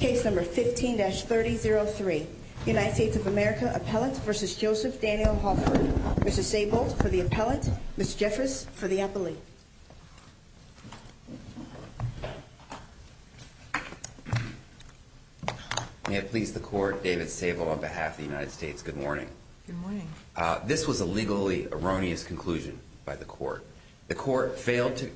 Case number 15-3003. United States of America appellate v. Joseph Daniel Hallford. Mr. Sable for the appellate, Ms. Jeffress for the appellate. May it please the court, David Sable on behalf of the United States, good morning. This was a legally erroneous conclusion by the court. The court failed to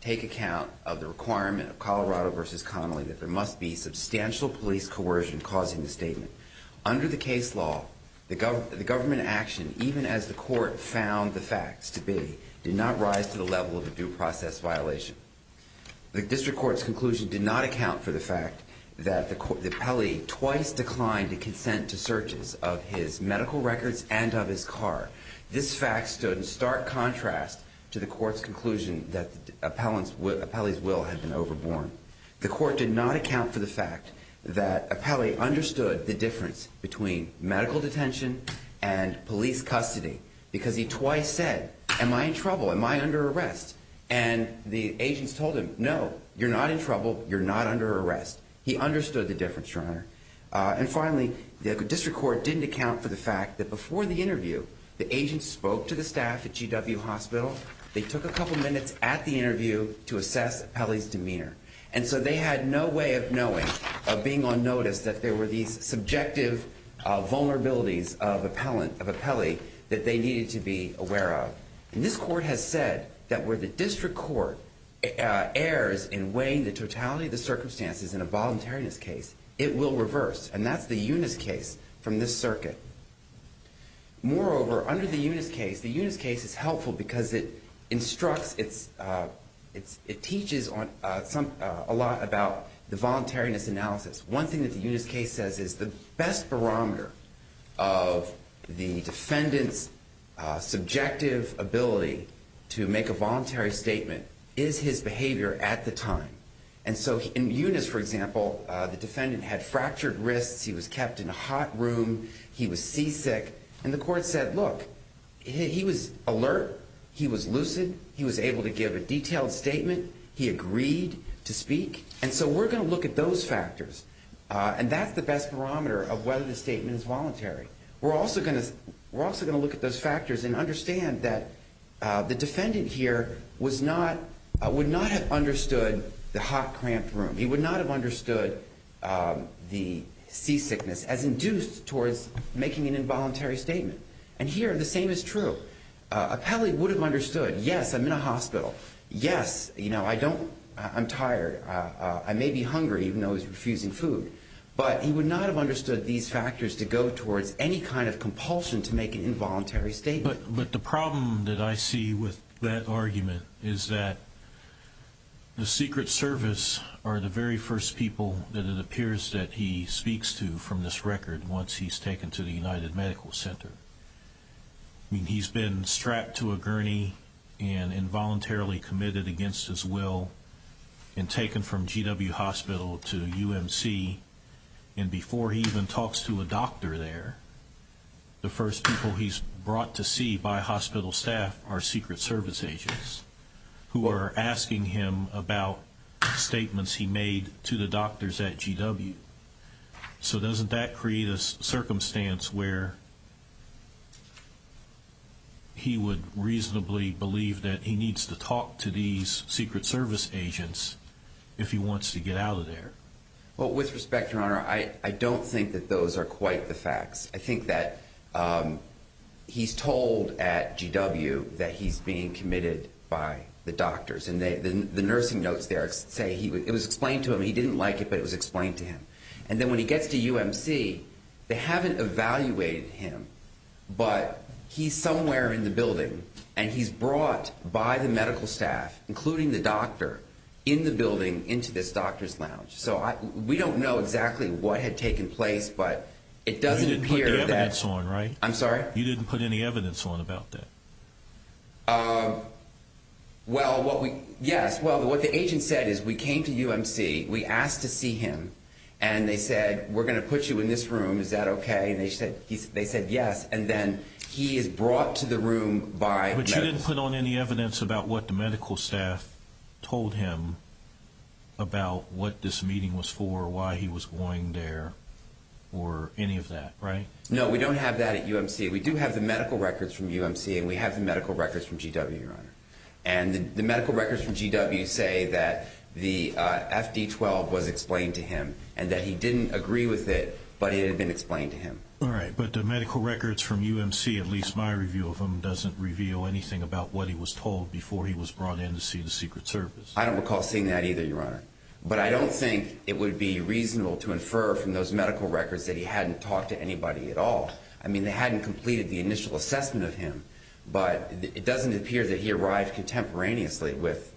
take account of the requirement of Colorado v. Connolly that there must be substantial police coercion causing the statement. Under the case law, the government action, even as the court found the facts to be, did not rise to the level of a due process violation. The district court's conclusion did not account for the fact that the appellee twice declined to consent to searches of his medical records and of his car. This fact stood in stark contrast to the will had been overborn. The court did not account for the fact that appellee understood the difference between medical detention and police custody because he twice said, am I in trouble? Am I under arrest? And the agents told him, no, you're not in trouble. You're not under arrest. He understood the difference, your honor. And finally, the district court didn't account for the fact that before the interview, the agent spoke to the staff at GW Hospital. They took a couple of minutes at the interview to assess Kelly's demeanor. And so they had no way of knowing of being on notice that there were these subjective vulnerabilities of appellant of a Kelly that they needed to be aware of. And this court has said that where the district court errs in weighing the totality of the circumstances in a voluntariness case, it will reverse. And that's the unit's case from this circuit. Moreover, under the unit's case, the unit's case is helpful because it instructs it's it's it teaches on some a lot about the voluntariness analysis. One thing that the unit's case says is the best barometer of the defendant's subjective ability to make a voluntary statement is his behavior at the time. And so in units, for example, the defendant had fractured wrists. He was kept in a hot room. He was seasick. And the court said, Look, he was alert. He was lucid. He was able to give a detailed statement. He agreed to speak. And so we're gonna look at those factors. And that's the best barometer of whether the statement is voluntary. We're also gonna we're also gonna look at those factors and understand that the defendant here was not would not have understood the hot, cramped room. He would not have seasickness as induced towards making an involuntary statement. And here, the same is true. Appellee would have understood. Yes, I'm in a hospital. Yes, you know, I don't. I'm tired. I may be hungry, even though he's refusing food, but he would not have understood these factors to go towards any kind of compulsion to make an involuntary statement. But the problem that I see with that argument is that the Secret Service are the very first people that it appears that he speaks to from this record once he's taken to the United Medical Center. I mean, he's been strapped to a gurney and involuntarily committed against his will and taken from GW Hospital to U. M. C. And before he even talks to a doctor there, the first people he's brought to see by hospital staff are Secret Service agents who are asking him about statements he made to the doctors at GW. So doesn't that create a circumstance where he would reasonably believe that he needs to talk to these Secret Service agents if he wants to get out of there? Well, with respect, Your Honor, I don't think that those are quite the facts. I think that, um, he's told at GW that he's being committed by the doctors and the nursing notes there say he was explained to him. He didn't like it, but it was explained to him. And then when he gets to U. M. C. They haven't evaluated him, but he's somewhere in the building and he's brought by the medical staff, including the doctor in the building into this doctor's lounge. So we don't know exactly what had taken place, but it doesn't appear that it's on, right? I'm sorry. You didn't put any evidence on about that. Uh, well, what? Yes. Well, what the agent said is we came to U. M. C. We asked to see him and they said, We're going to put you in this room. Is that okay? And they said they said yes. And then he is brought to the room by what you didn't put on any evidence about what the medical staff told him about what this meeting was for, why he was going there or any of that, right? No, we don't have that at U. M. C. We do have the medical records from U. M. C. And we have the medical records from G. W. Your honor. And the medical records from G. W. Say that the F. D. 12 was explained to him and that he didn't agree with it, but it had been explained to him. All right. But the medical records from U. M. C. At least my review of him doesn't reveal anything about what he was told before he was brought in to see the Secret Service. I don't recall seeing that either, your honor. But I don't think it would be reasonable to infer from those medical records that he hadn't talked to anybody at all. I mean, they hadn't completed the initial assessment of him, but it doesn't appear that he arrived contemporaneously with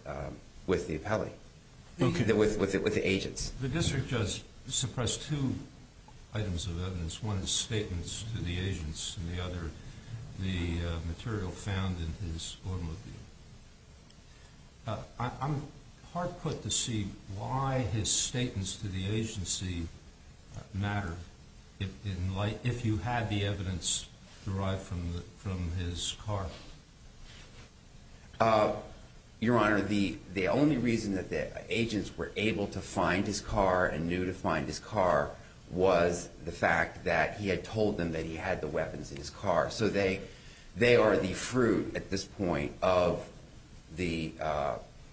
with the appellee with with the agents. The district just suppressed two items of evidence. One statements to the agents and the other. The I'm hard put to see why his statements to the agency matter in light if you had the evidence derived from from his car. Uh, your honor, the only reason that the agents were able to find his car and knew to find his car was the fact that he had told them that he had the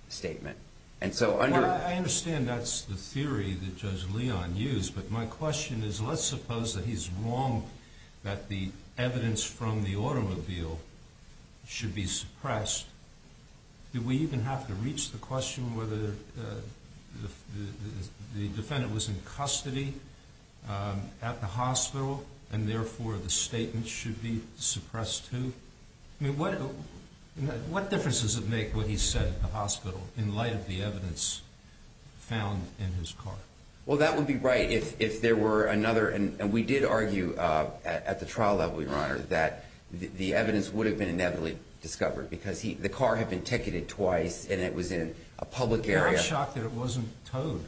statement. And so I understand that's the theory that Judge Leon used. But my question is, let's suppose that he's wrong, that the evidence from the automobile should be suppressed. Do we even have to reach the question whether the defendant was in custody at the hospital and therefore the statement should be suppressed to what? What difference does it make what he said in the hospital in light of the evidence found in his car? Well, that would be right. If if there were another and we did argue at the trial level, your honor, that the evidence would have been inevitably discovered because the car had been ticketed twice and it was in a public area. Shocked that it wasn't toad.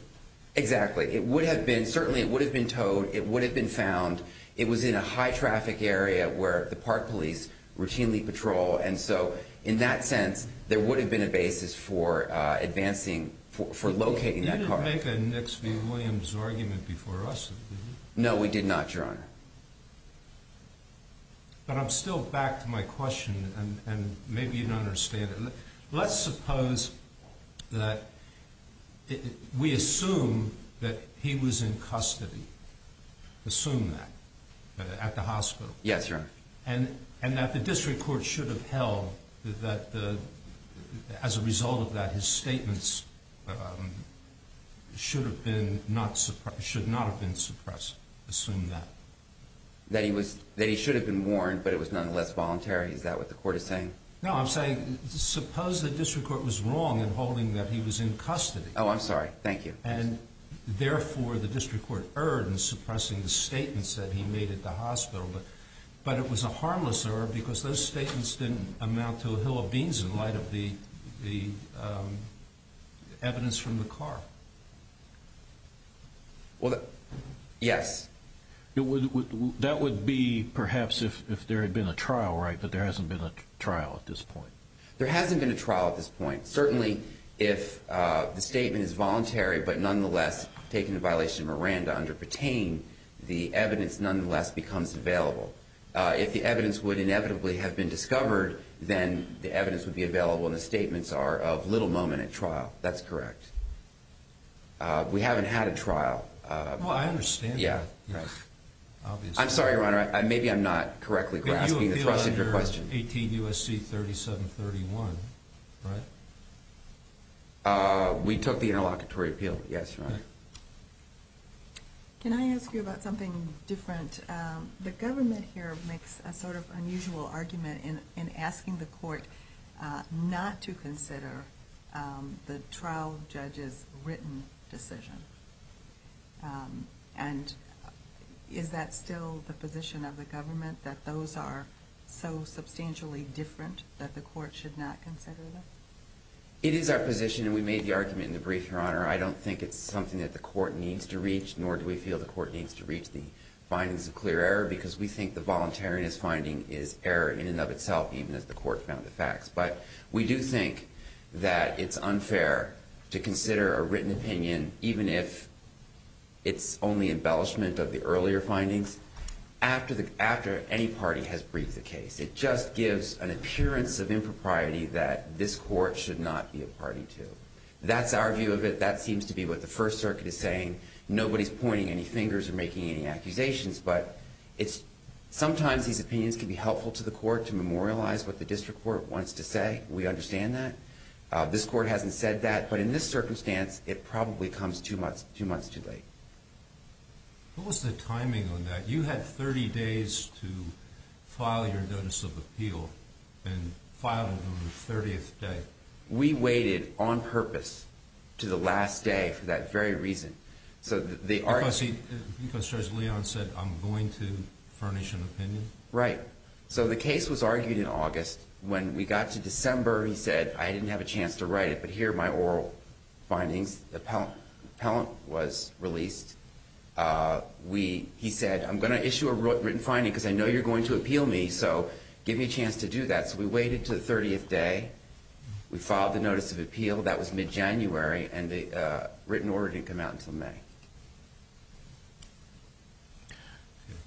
Exactly. It would have been. Certainly it would have been toad. It would have been found. It was in a high traffic area where the park police routinely patrol. And so in that sense, there would have been a basis for advancing for for locating that car. Make an X. V. Williams argument before us. No, we did not, your honor. But I'm still back to my question and maybe you don't understand it. Let's suppose that we assume that he was in custody. Assume that at the hospital. Yes, your and and that the district court should have held that as a result of that, his statements should have been not should not have been suppressed. Assume that that he was that he should have been warned, but it was nonetheless voluntary. Is that what the court is saying? No, I'm saying suppose the district court was wrong and holding that he was in custody. Oh, I'm sorry. Thank you. And therefore, the district court earned suppressing the statements that he made at the but it was a harmless error because those statements didn't amount to a hill of beans in light of the evidence from the car. Well, yes, it would. That would be perhaps if if there had been a trial, right? But there hasn't been a trial at this point. There hasn't been a trial at this point. Certainly, if the statement is voluntary, but nonetheless taken in violation of Miranda under pertain, the evidence nonetheless becomes available. If the evidence would inevitably have been discovered, then the evidence would be available in the statements are of little moment at trial. That's correct. We haven't had a trial. I understand. Yeah, I'm sorry, Your Honor. Maybe I'm not correctly grasping the thrust of your question. 18 U. S. C. 37 31. Right. We took the interlocutory appeal. Yes. Can I ask you about something different? The government here makes a sort of unusual argument in asking the court not to consider the trial judges written decision. Um, and is that still the position of the government that those are so it is our position, and we made the argument in the brief. Your Honor, I don't think it's something that the court needs to reach, nor do we feel the court needs to reach the findings of clear error because we think the voluntariness finding is error in and of itself, even as the court found the facts. But we do think that it's unfair to consider a written opinion, even if it's only embellishment of the earlier findings after the after any party has briefed the case. It just gives an appearance of impropriety that this court should not be a party to. That's our view of it. That seems to be what the First Circuit is saying. Nobody's pointing any fingers or making any accusations, but it's sometimes these opinions could be helpful to the court to memorialize what the district court wants to say. We understand that this court hasn't said that. But in this circumstance, it probably comes two months, two months too late. What was the timing on that? You had 30 days to file your notice of appeal and filed on the 30th day. We waited on purpose to the last day for that very reason. So they are because Leon said, I'm going to furnish an opinion, right? So the case was argued in August. When we got to December, he said, I didn't have a chance to write it. But here, my oral findings, the appellant was released. Uh, we he said, I'm gonna issue a written finding because I know you're going to appeal me. So give me a chance to do that. So we waited to the 30th day. We filed the notice of appeal. That was mid January, and the written order didn't come out until May.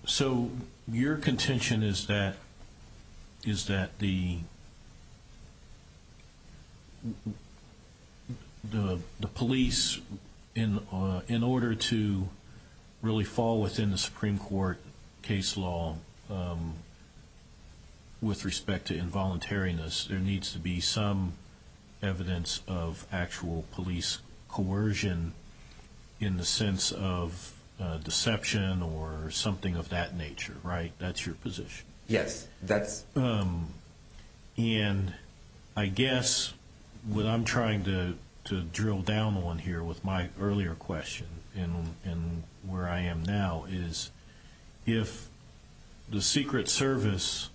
So your contention is that is that the the police in in order to really fall within the Supreme Court case law, um, with respect to involuntariness, there needs to be some evidence of actual police coercion in the sense of deception or something of that nature, right? That's your position. Yes, that's, um, and I guess what I'm trying to drill down on here with my earlier question and where I am now is if the Secret Service,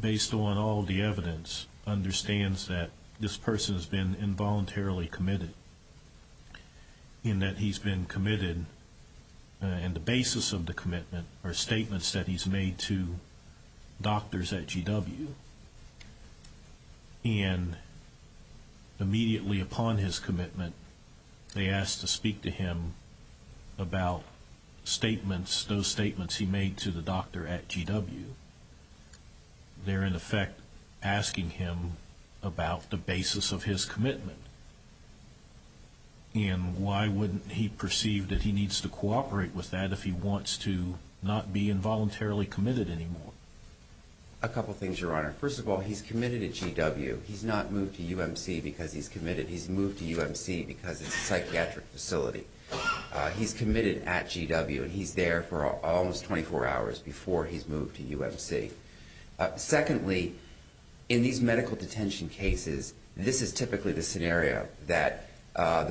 based on all the evidence, understands that this person has been involuntarily committed in that he's been committed and the basis of the commitment or statements that he's made to doctors at GW and immediately upon his commitment, they asked to speak to him about statements. Those statements he made to the doctor at GW. They're in effect asking him about the basis of his commitment. And why wouldn't he perceive that he needs to cooperate with that if he wants to not be involuntarily committed anymore? A couple things, Your Honor. First of all, he's committed at GW. He's not moved to UMC because he's committed. He's moved to UMC because it's a psychiatric facility. He's committed at GW, and he's there for almost 24 hours before he's moved to UMC. Secondly, in these medical detention cases, this is typically the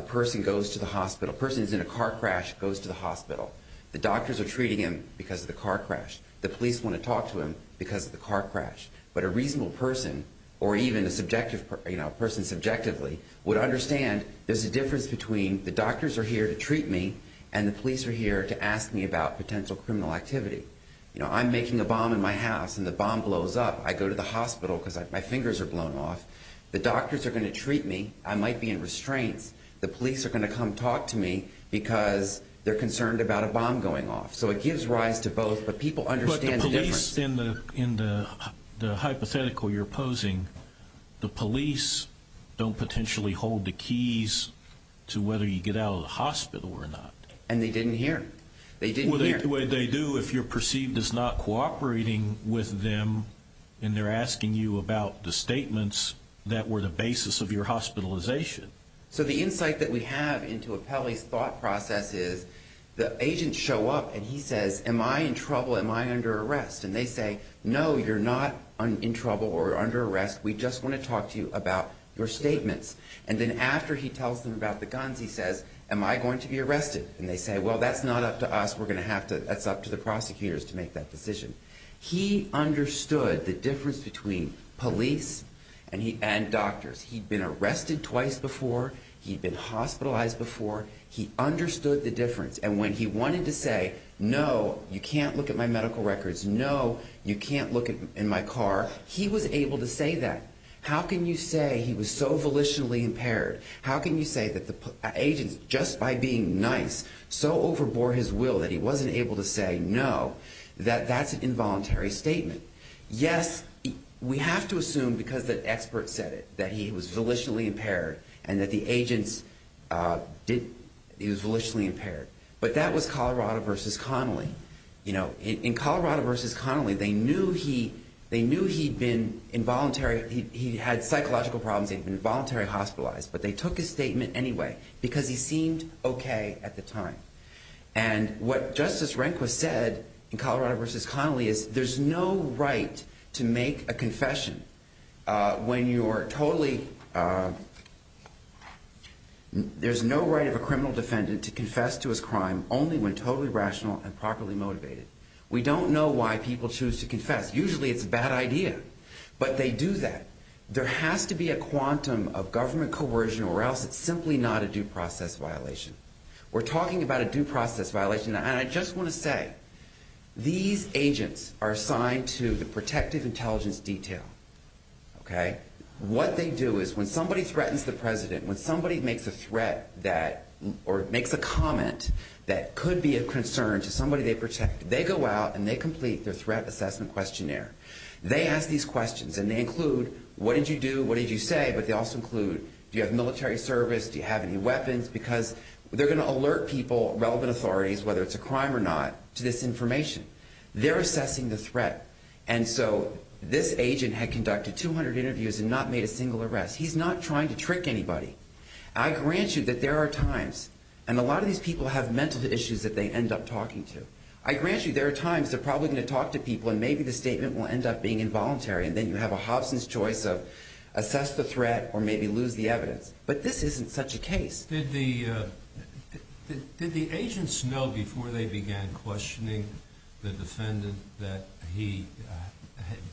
person goes to the hospital. A person who's in a car crash goes to the hospital. The doctors are treating him because of the car crash. The police want to talk to him because of the car crash. But a reasonable person or even a subjective person, you know, a person subjectively would understand there's a difference between the doctors are here to treat me and the police are here to ask me about potential criminal activity. You know, I'm making a bomb in my house and the bomb blows up. I go to the hospital because my fingers are the police are going to come talk to me because they're concerned about a bomb going off. So it gives rise to both. But people understand the police in the in the hypothetical you're opposing. The police don't potentially hold the keys to whether you get out of the hospital or not. And they didn't hear they didn't hear what they do if you're perceived is not cooperating with them and they're asking you about the statements that were the basis of your hospitalization. So the insight that we have into a Pelley's thought process is the agent show up and he says, Am I in trouble? Am I under arrest? And they say, No, you're not in trouble or under arrest. We just want to talk to you about your statements. And then after he tells them about the guns, he says, Am I going to be arrested? And they say, Well, that's not up to us. We're gonna have to. That's up to the prosecutors to make that decision. He understood the difference. And when he wanted to say no, you can't look at my medical records. No, you can't look in my car. He was able to say that. How can you say he was so volitionally impaired? How can you say that the agents just by being nice so overbore his will that he wasn't able to say no, that that's an involuntary statement. Yes, we have to assume because the expert said it that he was volitionally impaired and that the agents, uh, did. He was volitionally impaired. But that was Colorado versus Connelly. You know, in Colorado versus Connelly, they knew he they knew he'd been involuntary. He had psychological problems. They've been involuntary hospitalized, but they took his statement anyway because he seemed okay at the time. And what Justice Rehnquist said in Colorado versus Connelly is there's no right to make a there's no right of a criminal defendant to confess to his crime only when totally rational and properly motivated. We don't know why people choose to confess. Usually it's a bad idea, but they do that. There has to be a quantum of government coercion or else it's simply not a due process violation. We're talking about a due process violation. And I just want to say these agents are assigned to the protective intelligence detail. Okay, what they do is when somebody threatens the president, when somebody makes a threat that or makes a comment that could be a concern to somebody they protect, they go out and they complete their threat assessment questionnaire. They ask these questions and they include what did you do? What did you say? But they also include Do you have military service? Do you have any weapons? Because they're gonna alert people relevant authorities, whether it's a crime or not, to this information. They're assessing the not made a single arrest. He's not trying to trick anybody. I grant you that there are times and a lot of these people have mental issues that they end up talking to. I grant you there are times they're probably gonna talk to people and maybe the statement will end up being involuntary. And then you have a Hobson's choice of assess the threat or maybe lose the evidence. But this isn't such a case. Did the did the agents know before they began questioning the defendant that he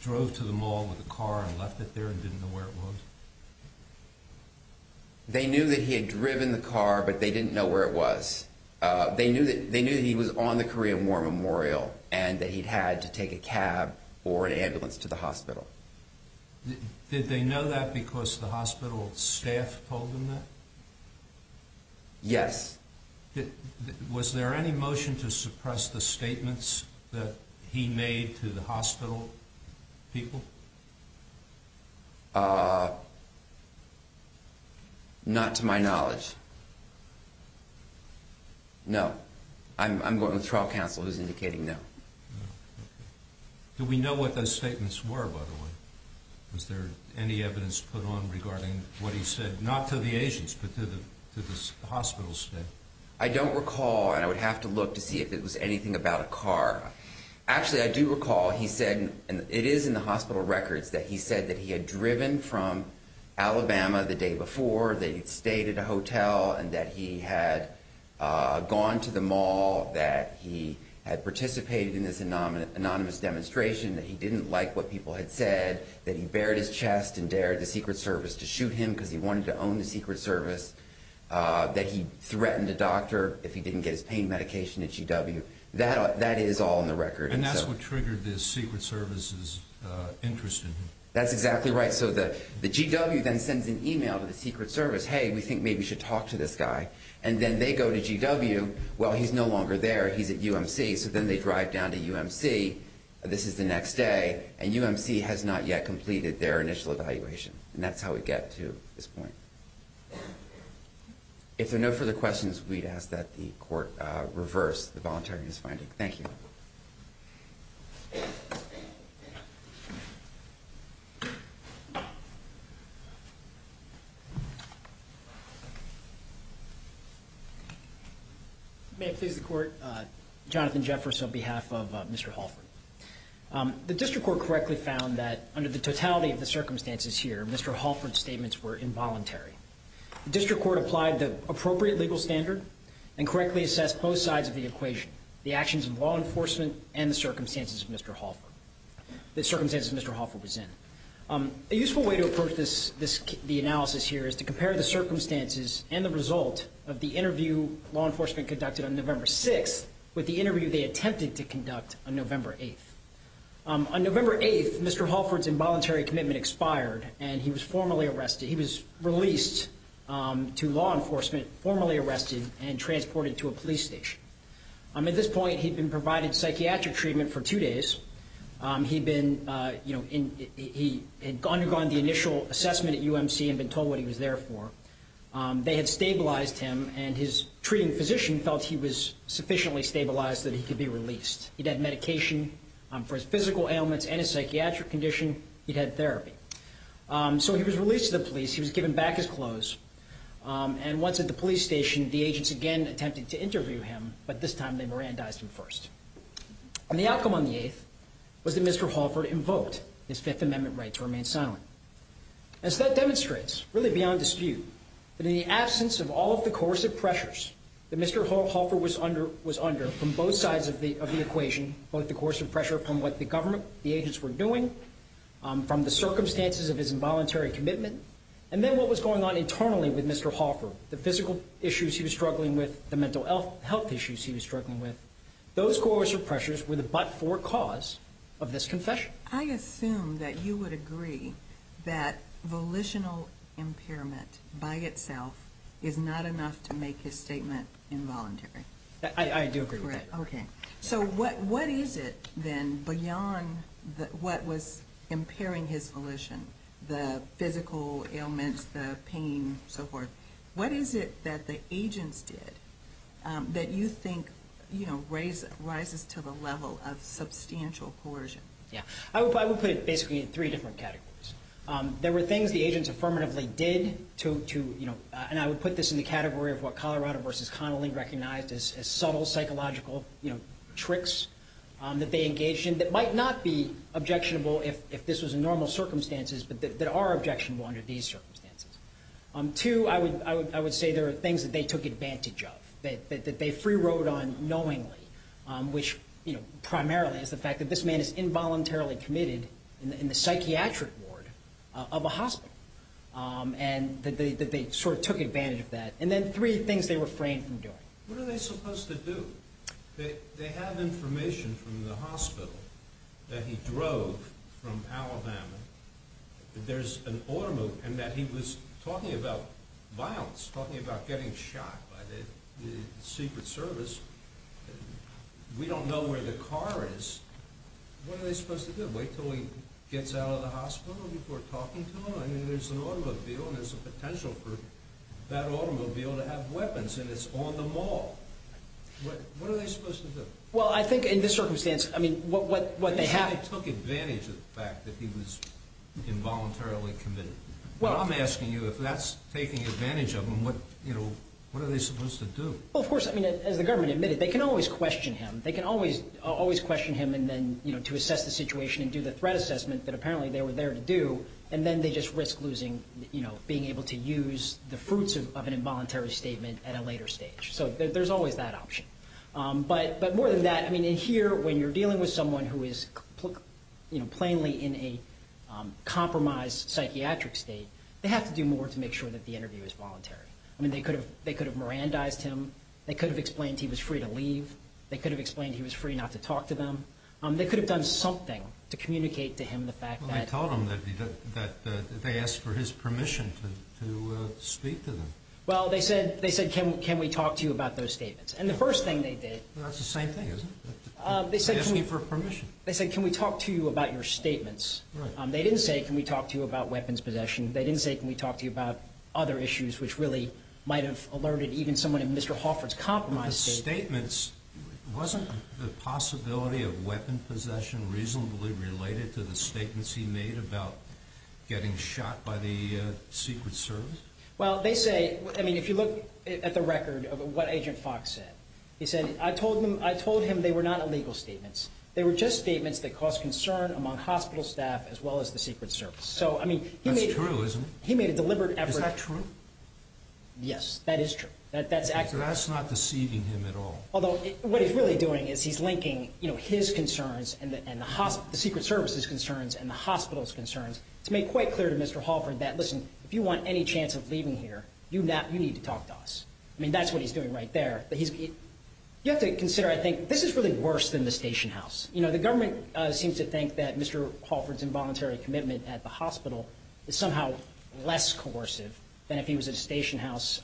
drove to the mall with a car and left it here and didn't know where it was. They knew that he had driven the car, but they didn't know where it was. They knew that they knew he was on the Korean War Memorial and that he had to take a cab or an ambulance to the hospital. Did they know that? Because the hospital staff told him that yes. Was there any motion to suppress the statements that he made to the hospital people? Uh, not to my knowledge. No, I'm going to trial counsel who's indicating no. Do we know what those statements were? By the way, was there any evidence put on regarding what he said? Not to the agents, but to the hospitals? I don't recall. And I would have to look to see if it was anything about a car. Actually, I do recall he said it is in the hospital records that he said that he had driven from Alabama the day before they stayed at a hotel and that he had gone to the mall that he had participated in this anonymous demonstration that he didn't like what people had said that he buried his chest and dared the Secret Service to shoot him because he wanted to own the Secret Service that he threatened a doctor if he didn't get his pain medication at GW. That that is all in the record. And that's what triggered the Secret Service is interested. That's exactly right. So the GW then sends an email to the Secret Service. Hey, we think maybe we should talk to this guy and then they go to GW. Well, he's no longer there. He's at UMC. So then they drive down to UMC. This is the next day and UMC has not yet completed their initial evaluation. And that's how we get to this point. If there are no further questions, we'd ask that the court reverse the voluntary is finding. Thank you. Yeah. May please the court. Uh, Jonathan Jefferson on behalf of Mr. Halford. Um, the district court correctly found that under the totality of the circumstances here, Mr. Halford statements were involuntary. District Court applied the appropriate legal standard and correctly assessed both sides of the equation. The actions of law enforcement and the circumstances of Mr. Hoffer, the circumstances Mr. Hoffer was in. Um, a useful way to approach this. The analysis here is to compare the circumstances and the result of the interview law enforcement conducted on November six with the interview they attempted to conduct on November 8th. On November 8th, Mr Halford's involuntary commitment expired and he was formally arrested. He was released, um, to law enforcement, formally arrested and transported to a police station. Um, at this point, he'd been provided psychiatric treatment for two days. Um, he'd been, uh, you know, he had undergone the initial assessment at U. M. C. And been told what he was there for. Um, they had stabilized him and his treating physician felt he was sufficiently stabilized that he could be released. He'd had medication for his physical ailments and a psychiatric condition. He had therapy. Um, so he was released to the police. He was given back his clothes. Um, and once at the police station, the agents again attempted to interview him. But this time they Mirandized him first. And the outcome on the eighth was that Mr Halford invoked his Fifth Amendment right to remain silent. As that demonstrates really beyond dispute that in the absence of all of the course of pressures that Mr Halford was under was under from both sides of the of the equation, both the course of pressure from what the government, the agents were doing from the circumstances of his involuntary commitment. And then what was going on internally with Mr Halford, the physical issues he was working with. Those coercive pressures were the but for cause of this confession. I assume that you would agree that volitional impairment by itself is not enough to make his statement involuntary. I do agree. Okay. So what what is it then beyond what was impairing his volition, the physical you know, raise rises to the level of substantial coercion. Yeah, I would put it basically in three different categories. Um, there were things the agents affirmatively did to, you know, and I would put this in the category of what Colorado versus Connelly recognized as subtle psychological tricks that they engaged in that might not be objectionable if this was a normal circumstances, but that are objectionable under these circumstances. Um, to I would I would I would say there are things that they took advantage of that they free road on knowingly, which, you know, primarily is the fact that this man is involuntarily committed in the psychiatric ward of a hospital. Um, and that they sort of took advantage of that. And then three things they refrain from doing. What are they supposed to do? They have information from the hospital that he drove from Alabama. There's an automobile and that he was talking about violence, talking about getting shot by the Secret Service. We don't know where the car is. What are they supposed to do? Wait till he gets out of the hospital before talking to him. I mean, there's an automobile. There's a potential for that automobile to have weapons, and it's on the mall. What are they supposed to do? Well, I think in this circumstance, I mean, what what what they have took advantage of the fact that he was involuntarily Well, I'm asking you if that's taking advantage of him. What? You know, what are they supposed to do? Well, of course, I mean, as the government admitted, they can always question him. They can always always question him. And then, you know, to assess the situation and do the threat assessment that apparently they were there to do. And then they just risk losing, you know, being able to use the fruits of an involuntary statement at a later stage. So there's always that option. Um, but but more than that, I mean, in here, when you're in a compromised psychiatric state, they have to do more to make sure that the interview is voluntary. I mean, they could have. They could have Mirandized him. They could have explained he was free to leave. They could have explained he was free not to talk to them. They could have done something to communicate to him. The fact that I told him that they asked for his permission to speak to them. Well, they said they said, Can we talk to you about those statements? And the first thing they did? That's the same thing, isn't it? They said for permission, they said, Can we talk to you about your statements? They didn't say, Can we talk to you about weapons possession? They didn't say, Can we talk to you about other issues, which really might have alerted even someone in Mr. Hoffer's compromised statements? Wasn't the possibility of weapon possession reasonably related to the statements he made about getting shot by the Secret Service? Well, they say, I mean, if you look at the record of what Agent Fox said, he said, I told him I told him they were not illegal statements. They were just concern among hospital staff as well as the Secret Service. So I mean, he made realism. He made a deliberate effort. True. Yes, that is true. That that's actually that's not deceiving him at all. Although what he's really doing is he's linking his concerns and the hospital, the Secret Service's concerns and the hospital's concerns to make quite clear to Mr Hoffer that listen, if you want any chance of leaving here, you know, you need to talk to us. I mean, that's what he's doing right there. But he's you have to consider. I think this is really worse than the station house. You know, the White House seems to think that Mr Hoffer's involuntary commitment at the hospital is somehow less coercive than if he was a station house.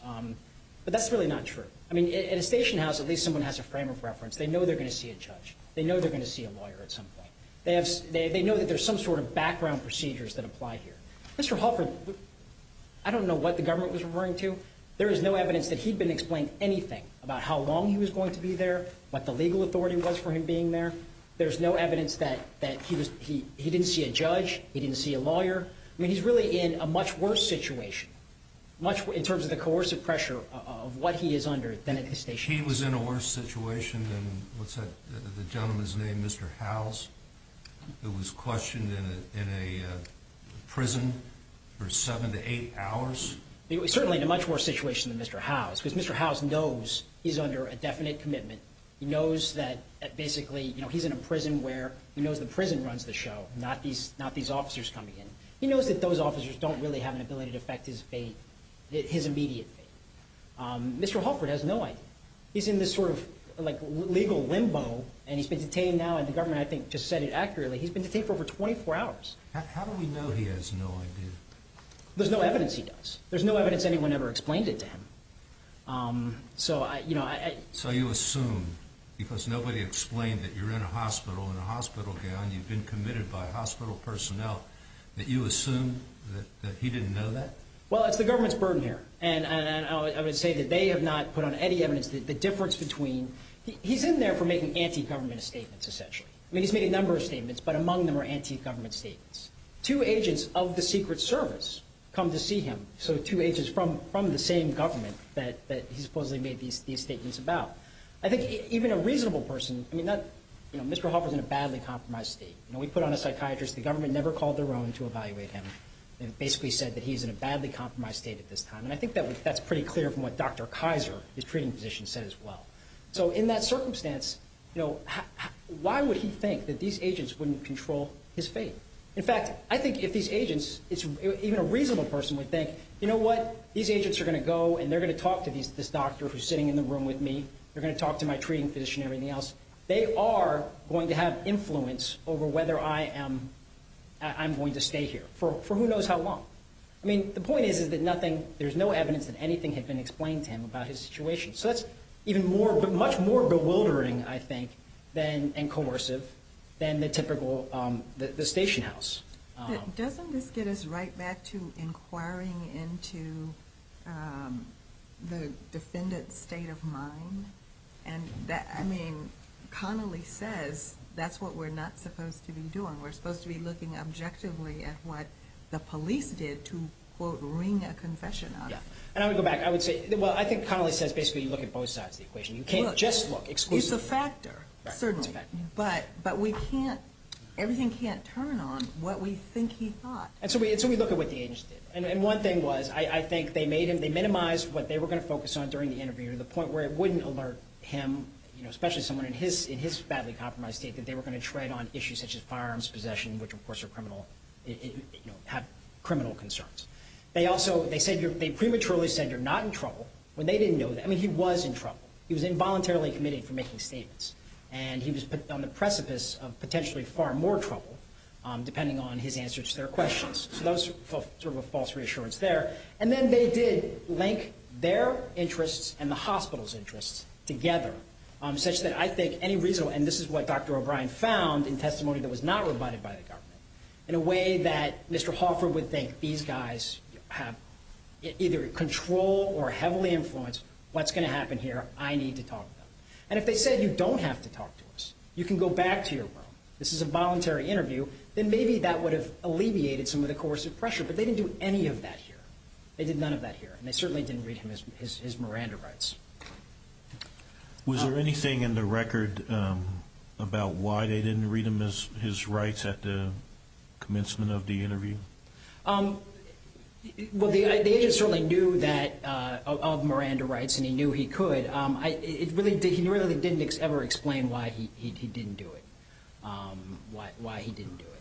But that's really not true. I mean, at a station house, at least someone has a frame of reference. They know they're going to see a judge. They know they're going to see a lawyer at some point. They have they know that there's some sort of background procedures that apply here. Mr Hoffer, I don't know what the government was referring to. There is no evidence that he'd been explained anything about how long he was going to be there, what the legal authority was for him being there. There's no evidence that that he was. He didn't see a judge. He didn't see a lawyer. I mean, he's really in a much worse situation, much in terms of the coercive pressure of what he is under. Then at the station, he was in a worse situation. What's that? The gentleman's named Mr House. It was questioned in a prison for 7 to 8 hours. It was certainly in a much worse situation than Mr House because Mr House knows he's in a prison where he knows the prison runs the show, not these officers coming in. He knows that those officers don't really have an ability to affect his fate, his immediate fate. Mr Hoffer has no idea. He's in this sort of legal limbo, and he's been detained now, and the government, I think, just said it accurately. He's been detained for over 24 hours. How do we know he has no idea? There's no evidence he does. There's no evidence anyone ever explained it to him. So you assume, because nobody explained that you're in a hospital, in a hospital gown, you've been committed by hospital personnel, that you assume that he didn't know that? Well, it's the government's burden here, and I would say that they have not put on any evidence that the difference between... He's in there for making anti-government statements, essentially. I mean, he's made a number of statements, but among them are anti-government statements. Two agents of the Secret Service come to see him, so two agents from the same government that he supposedly made these statements about. I think even a reasonable person... I mean, Mr. Hoffer's in a badly compromised state. We put on a psychiatrist, the government never called their own to evaluate him, and basically said that he's in a badly compromised state at this time. And I think that's pretty clear from what Dr. Kaiser, his treating physician, said as well. So in that circumstance, why would he think that these agents wouldn't control his fate? In fact, I think if these agents... Even a reasonable person would think, you know what? These agents are gonna go and they're gonna talk to this doctor who's sitting in the room with me. They're gonna talk to my treating physician and everything else. They are going to have influence over whether I'm going to stay here for who knows how long. The point is, is that nothing... There's no evidence that anything had been explained to him about his situation. So that's even more... Much more bewildering, I think, and coercive than the typical... The station house. Doesn't this get us right back to inquiring into the defendant's state of mind? And that... Connolly says, that's what we're not supposed to be doing. We're supposed to be looking objectively at what the police did to, quote, wring a confession out of. Yeah. And I would go back. I would say... Well, I think Connolly says basically you look at both sides of the equation. You can't just look exclusively... It's a factor, certainly. Right, it's a factor. But we can't... Everything can't turn on what we think he thought. And so we look at what the agents did. And one thing was, I think they made him... They minimized what they were gonna focus on during the interview to the point where it wouldn't alert him, especially someone in his badly compromised state, that they were gonna tread on issues such as firearms possession, which of course are criminal... Have criminal concerns. They also... They said you're... They prematurely said you're not in trouble when they didn't know that. He was in trouble. He was involuntarily committed for making statements. And he was on the precipice of potentially far more trouble depending on his answers to their questions. So that was sort of a false reassurance there. And then they did link their interests and the hospital's interests together, such that I think any reasonable... And this is what Dr. O'Brien found in testimony that was not rebutted by the government, in a way that Mr. Hoffer would think, these guys have either control or heavily influenced what's gonna happen here, I need to talk to them. And if they said, you don't have to talk to us, you can go back to your room. This is a voluntary interview, then maybe that would have alleviated some of the coercive pressure. But they didn't do any of that here. They did none of that here. And they certainly didn't read him his Miranda rights. Was there anything in the record about why they didn't read him his rights at the commencement of the interview? Well, the agent certainly knew that... Of Miranda rights, and he knew he could. It really did... He really didn't ever explain why he didn't do it. Why he didn't do it.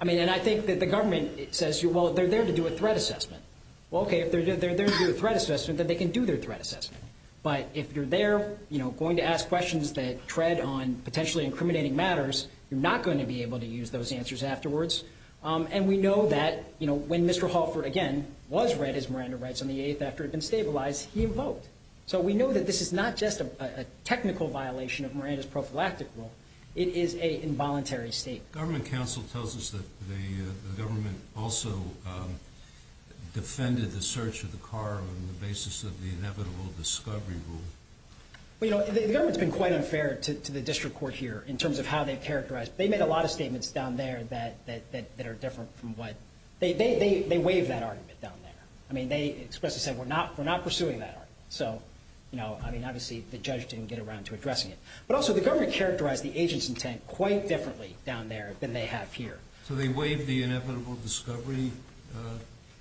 And I think that the government says, well, they're there to do a threat assessment. Well, okay, if they're there to do a threat assessment, then they can do their threat assessment. But if you're there going to ask questions that tread on potentially incriminating matters, you're not going to be able to use those answers afterwards. And we know that when Mr. Hoffer, again, was read his Miranda rights on the 8th after it had been stabilized, he evoked. So we know that this is not just a technical violation of Miranda's prophylactic rule. It is a involuntary state. Government counsel tells us that the government also defended the search of the car on the basis of the inevitable discovery rule. Well, you know, the government's been quite unfair to the district court here in terms of how they've characterized. They made a lot of statements down there that are different from what... They waived that argument down there. I mean, they expressly said, we're not pursuing that argument. So, I mean, obviously, the judge didn't get around to addressing it. But also, the government characterized the agent's intent quite differently down there than they have here. So they waived the inevitable discovery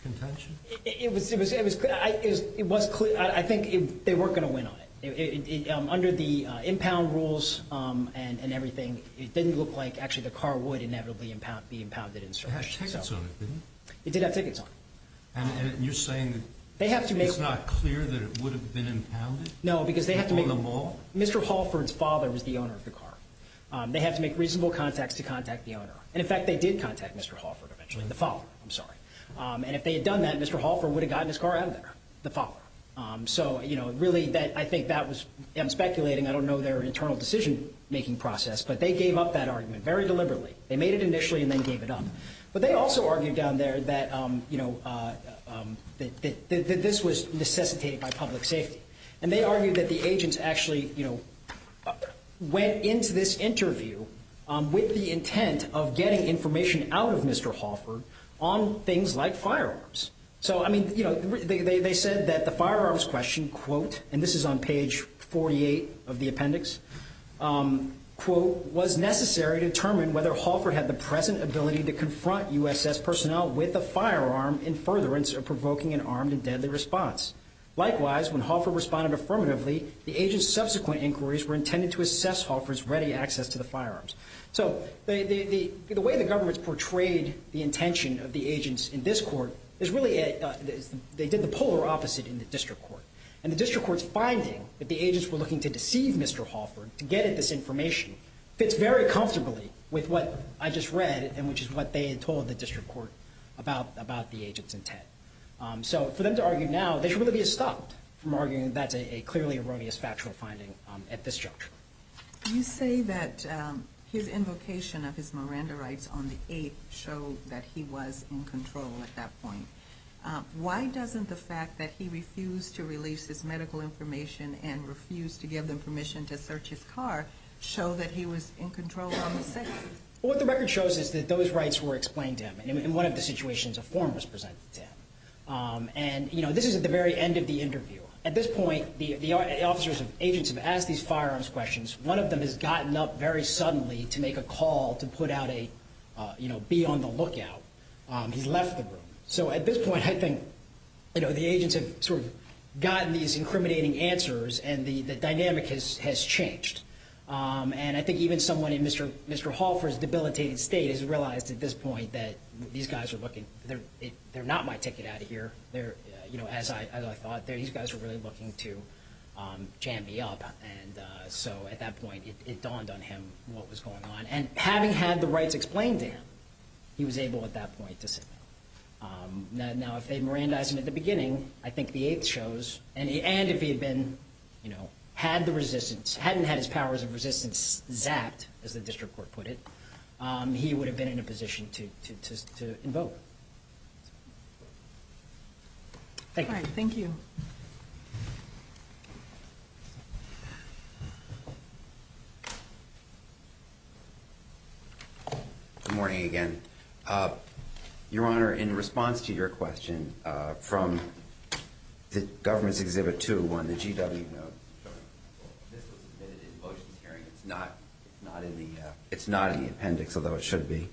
contention? It was... It was clear. I think they weren't gonna win on it. Under the impound rules and everything, it didn't look like actually the car would inevitably be impounded and searched. It had tickets on it, didn't it? It did have tickets on it. And you're saying that... They have to make... It's not clear that it would have been impounded? No, because they have to make... On the mall? Mr. Halford's father was the owner of the car. They have to make reasonable contacts to contact the owner. And in fact, they did contact Mr. Halford eventually, the father, I'm sorry. And if they had done that, Mr. Halford would have gotten his car out of there, the father. So, really, I think that was... I'm speculating, I don't know their internal decision making process, but they gave up that argument very deliberately. They made it initially and then gave it up. But they also argued down there that this was necessitated by public safety. And they argued that the agents actually went into this interview with the intent of getting information out of Mr. Halford on things like firearms. So, they said that the firearms question, quote, and this is on page 48 of the appendix, quote, was necessary to determine whether Halford had the present ability to confront USS personnel with a firearm in furtherance of provoking an armed and deadly response. Likewise, when Halford responded affirmatively, the agent's subsequent inquiries were intended to assess Halford's ready access to the firearms. So, the way the government's portrayed the intention of the agents in this court is really... They did the polar opposite in the district court. And the district court's finding that the agents were looking to deceive Mr. Halford to get at this information fits very well with what they told the district court about the agents' intent. So, for them to argue now, they should really be stopped from arguing that that's a clearly erroneous factual finding at this juncture. You say that his invocation of his Miranda rights on the 8th showed that he was in control at that point. Why doesn't the fact that he refused to release his medical information and refused to give them permission to search his car show that he was in control on the 6th? Well, what the record shows is that those rights were explained to him in one of the situations a form was presented to him. And this is at the very end of the interview. At this point, the officers and agents have asked these firearms questions. One of them has gotten up very suddenly to make a call to put out a... Be on the lookout. He's left the room. So, at this point, I think the agents have sort of gotten these incriminating answers and the officer's debilitated state has realized at this point that these guys are looking... They're not my ticket out of here. As I thought, these guys were really looking to jam me up. And so, at that point, it dawned on him what was going on. And having had the rights explained to him, he was able at that point to sit down. Now, if they had Mirandized him at the beginning, I think the 8th shows, and if he had been... Had the resistance, hadn't had his powers of resistance zapped, as the district court put it, he would have been in a position to invoke. Thank you. Alright, thank you. Good morning again. Your Honor, in response to your question from the government's exhibit two on the GW note, this was admitted in a not in the... It's not in the appendix, although it should be.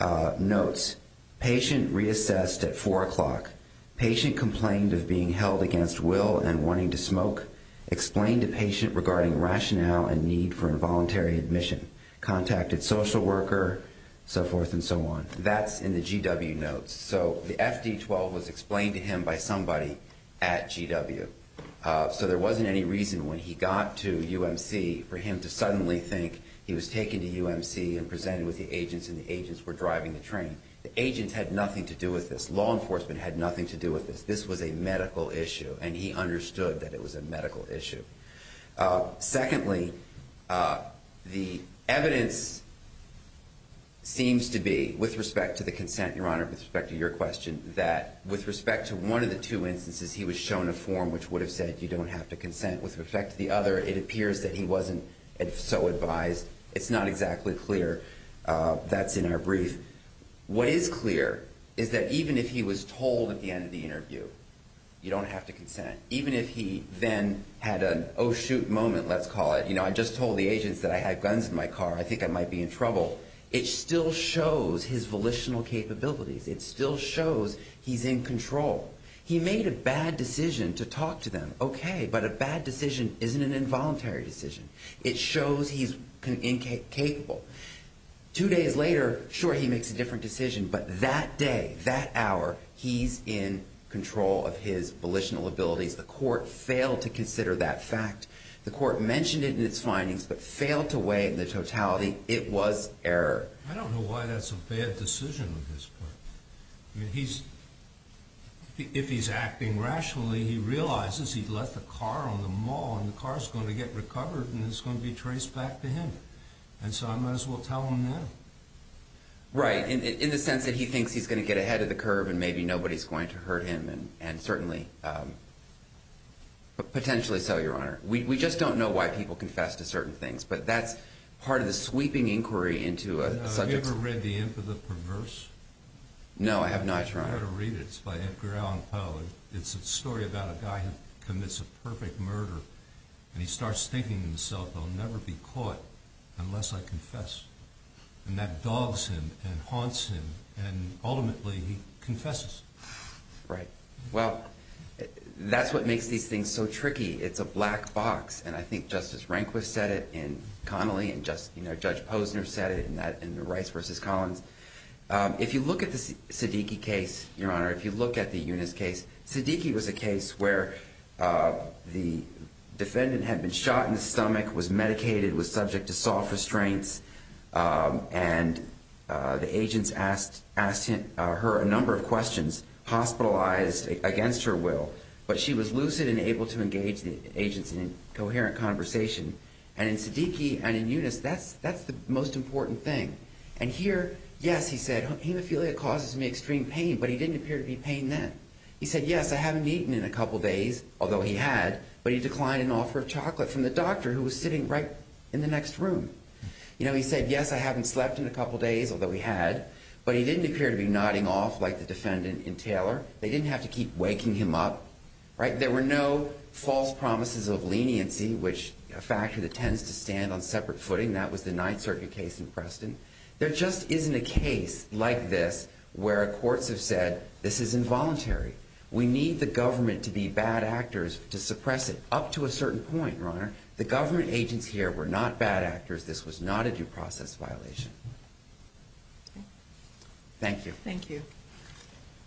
Notes, patient reassessed at 4 o'clock. Patient complained of being held against will and wanting to smoke. Explained to patient regarding rationale and need for involuntary admission. Contacted social worker, so forth and so on. That's in the GW notes. So, the FD12 was explained to him by somebody at GW. So, there wasn't any reason when he got to think he was taken to UMC and presented with the agents, and the agents were driving the train. The agents had nothing to do with this. Law enforcement had nothing to do with this. This was a medical issue, and he understood that it was a medical issue. Secondly, the evidence seems to be, with respect to the consent, Your Honor, with respect to your question, that with respect to one of the two instances, he was shown a form which would have said, you don't have to consent. With respect to the other, it appears that he wasn't so advised. It's not exactly clear. That's in our brief. What is clear is that even if he was told at the end of the interview, you don't have to consent. Even if he then had an oh shoot moment, let's call it. I just told the agents that I had guns in my car. I think I might be in trouble. It still shows his volitional capabilities. It still shows he's in control. He made a bad decision to talk to them. Okay, but a bad decision isn't an involuntary decision. It shows he's incapable. Two days later, sure, he makes a different decision, but that day, that hour, he's in control of his volitional abilities. The court failed to consider that fact. The court mentioned it in its findings, but failed to weigh the totality. It was error. I don't know why that's a bad decision at this point. If he's acting rationally, he realizes he left the car on the mall, and the car's gonna get recovered, and it's gonna be traced back to him. And so I might as well tell him that. Right, in the sense that he thinks he's gonna get ahead of the curve, and maybe nobody's going to hurt him, and certainly... Potentially so, Your Honor. We just don't know why people confess to certain things, but that's part of the sweeping inquiry into a subject... Have you ever read The Imp of the Perverse? No, I have not, Your Honor. I've never read it. It's by Edgar Allan Poe about a guy who commits a perfect murder, and he starts thinking to himself, I'll never be caught unless I confess. And that dogs him and haunts him, and ultimately, he confesses. Right. Well, that's what makes these things so tricky. It's a black box, and I think Justice Rehnquist said it, and Connolly, and Judge Posner said it in the Rice versus Collins. If you look at the Siddiqui case, Your Honor, if you look at the Eunice case, Siddiqui was a case where the defendant had been shot in the stomach, was medicated, was subject to soft restraints, and the agents asked her a number of questions, hospitalized against her will, but she was lucid and able to engage the agents in a coherent conversation. And in Siddiqui and in Eunice, that's the most important thing. And here, yes, he said, hemophilia causes me extreme pain, but he didn't appear to be in pain then. He said, yes, I haven't eaten in a couple of days, although he had, but he declined an offer of chocolate from the doctor who was sitting right in the next room. He said, yes, I haven't slept in a couple of days, although he had, but he didn't appear to be nodding off like the defendant in Taylor. They didn't have to keep waking him up. There were no false promises of leniency, which is a factor that tends to stand on separate footing. That was the Ninth Circuit case in Preston. There just isn't a case like this where courts have said, this is involuntary. We need the government to be bad actors to suppress it up to a certain point, Your Honor. The government agents here were not bad actors. This was not a due process violation. Thank you. Thank you.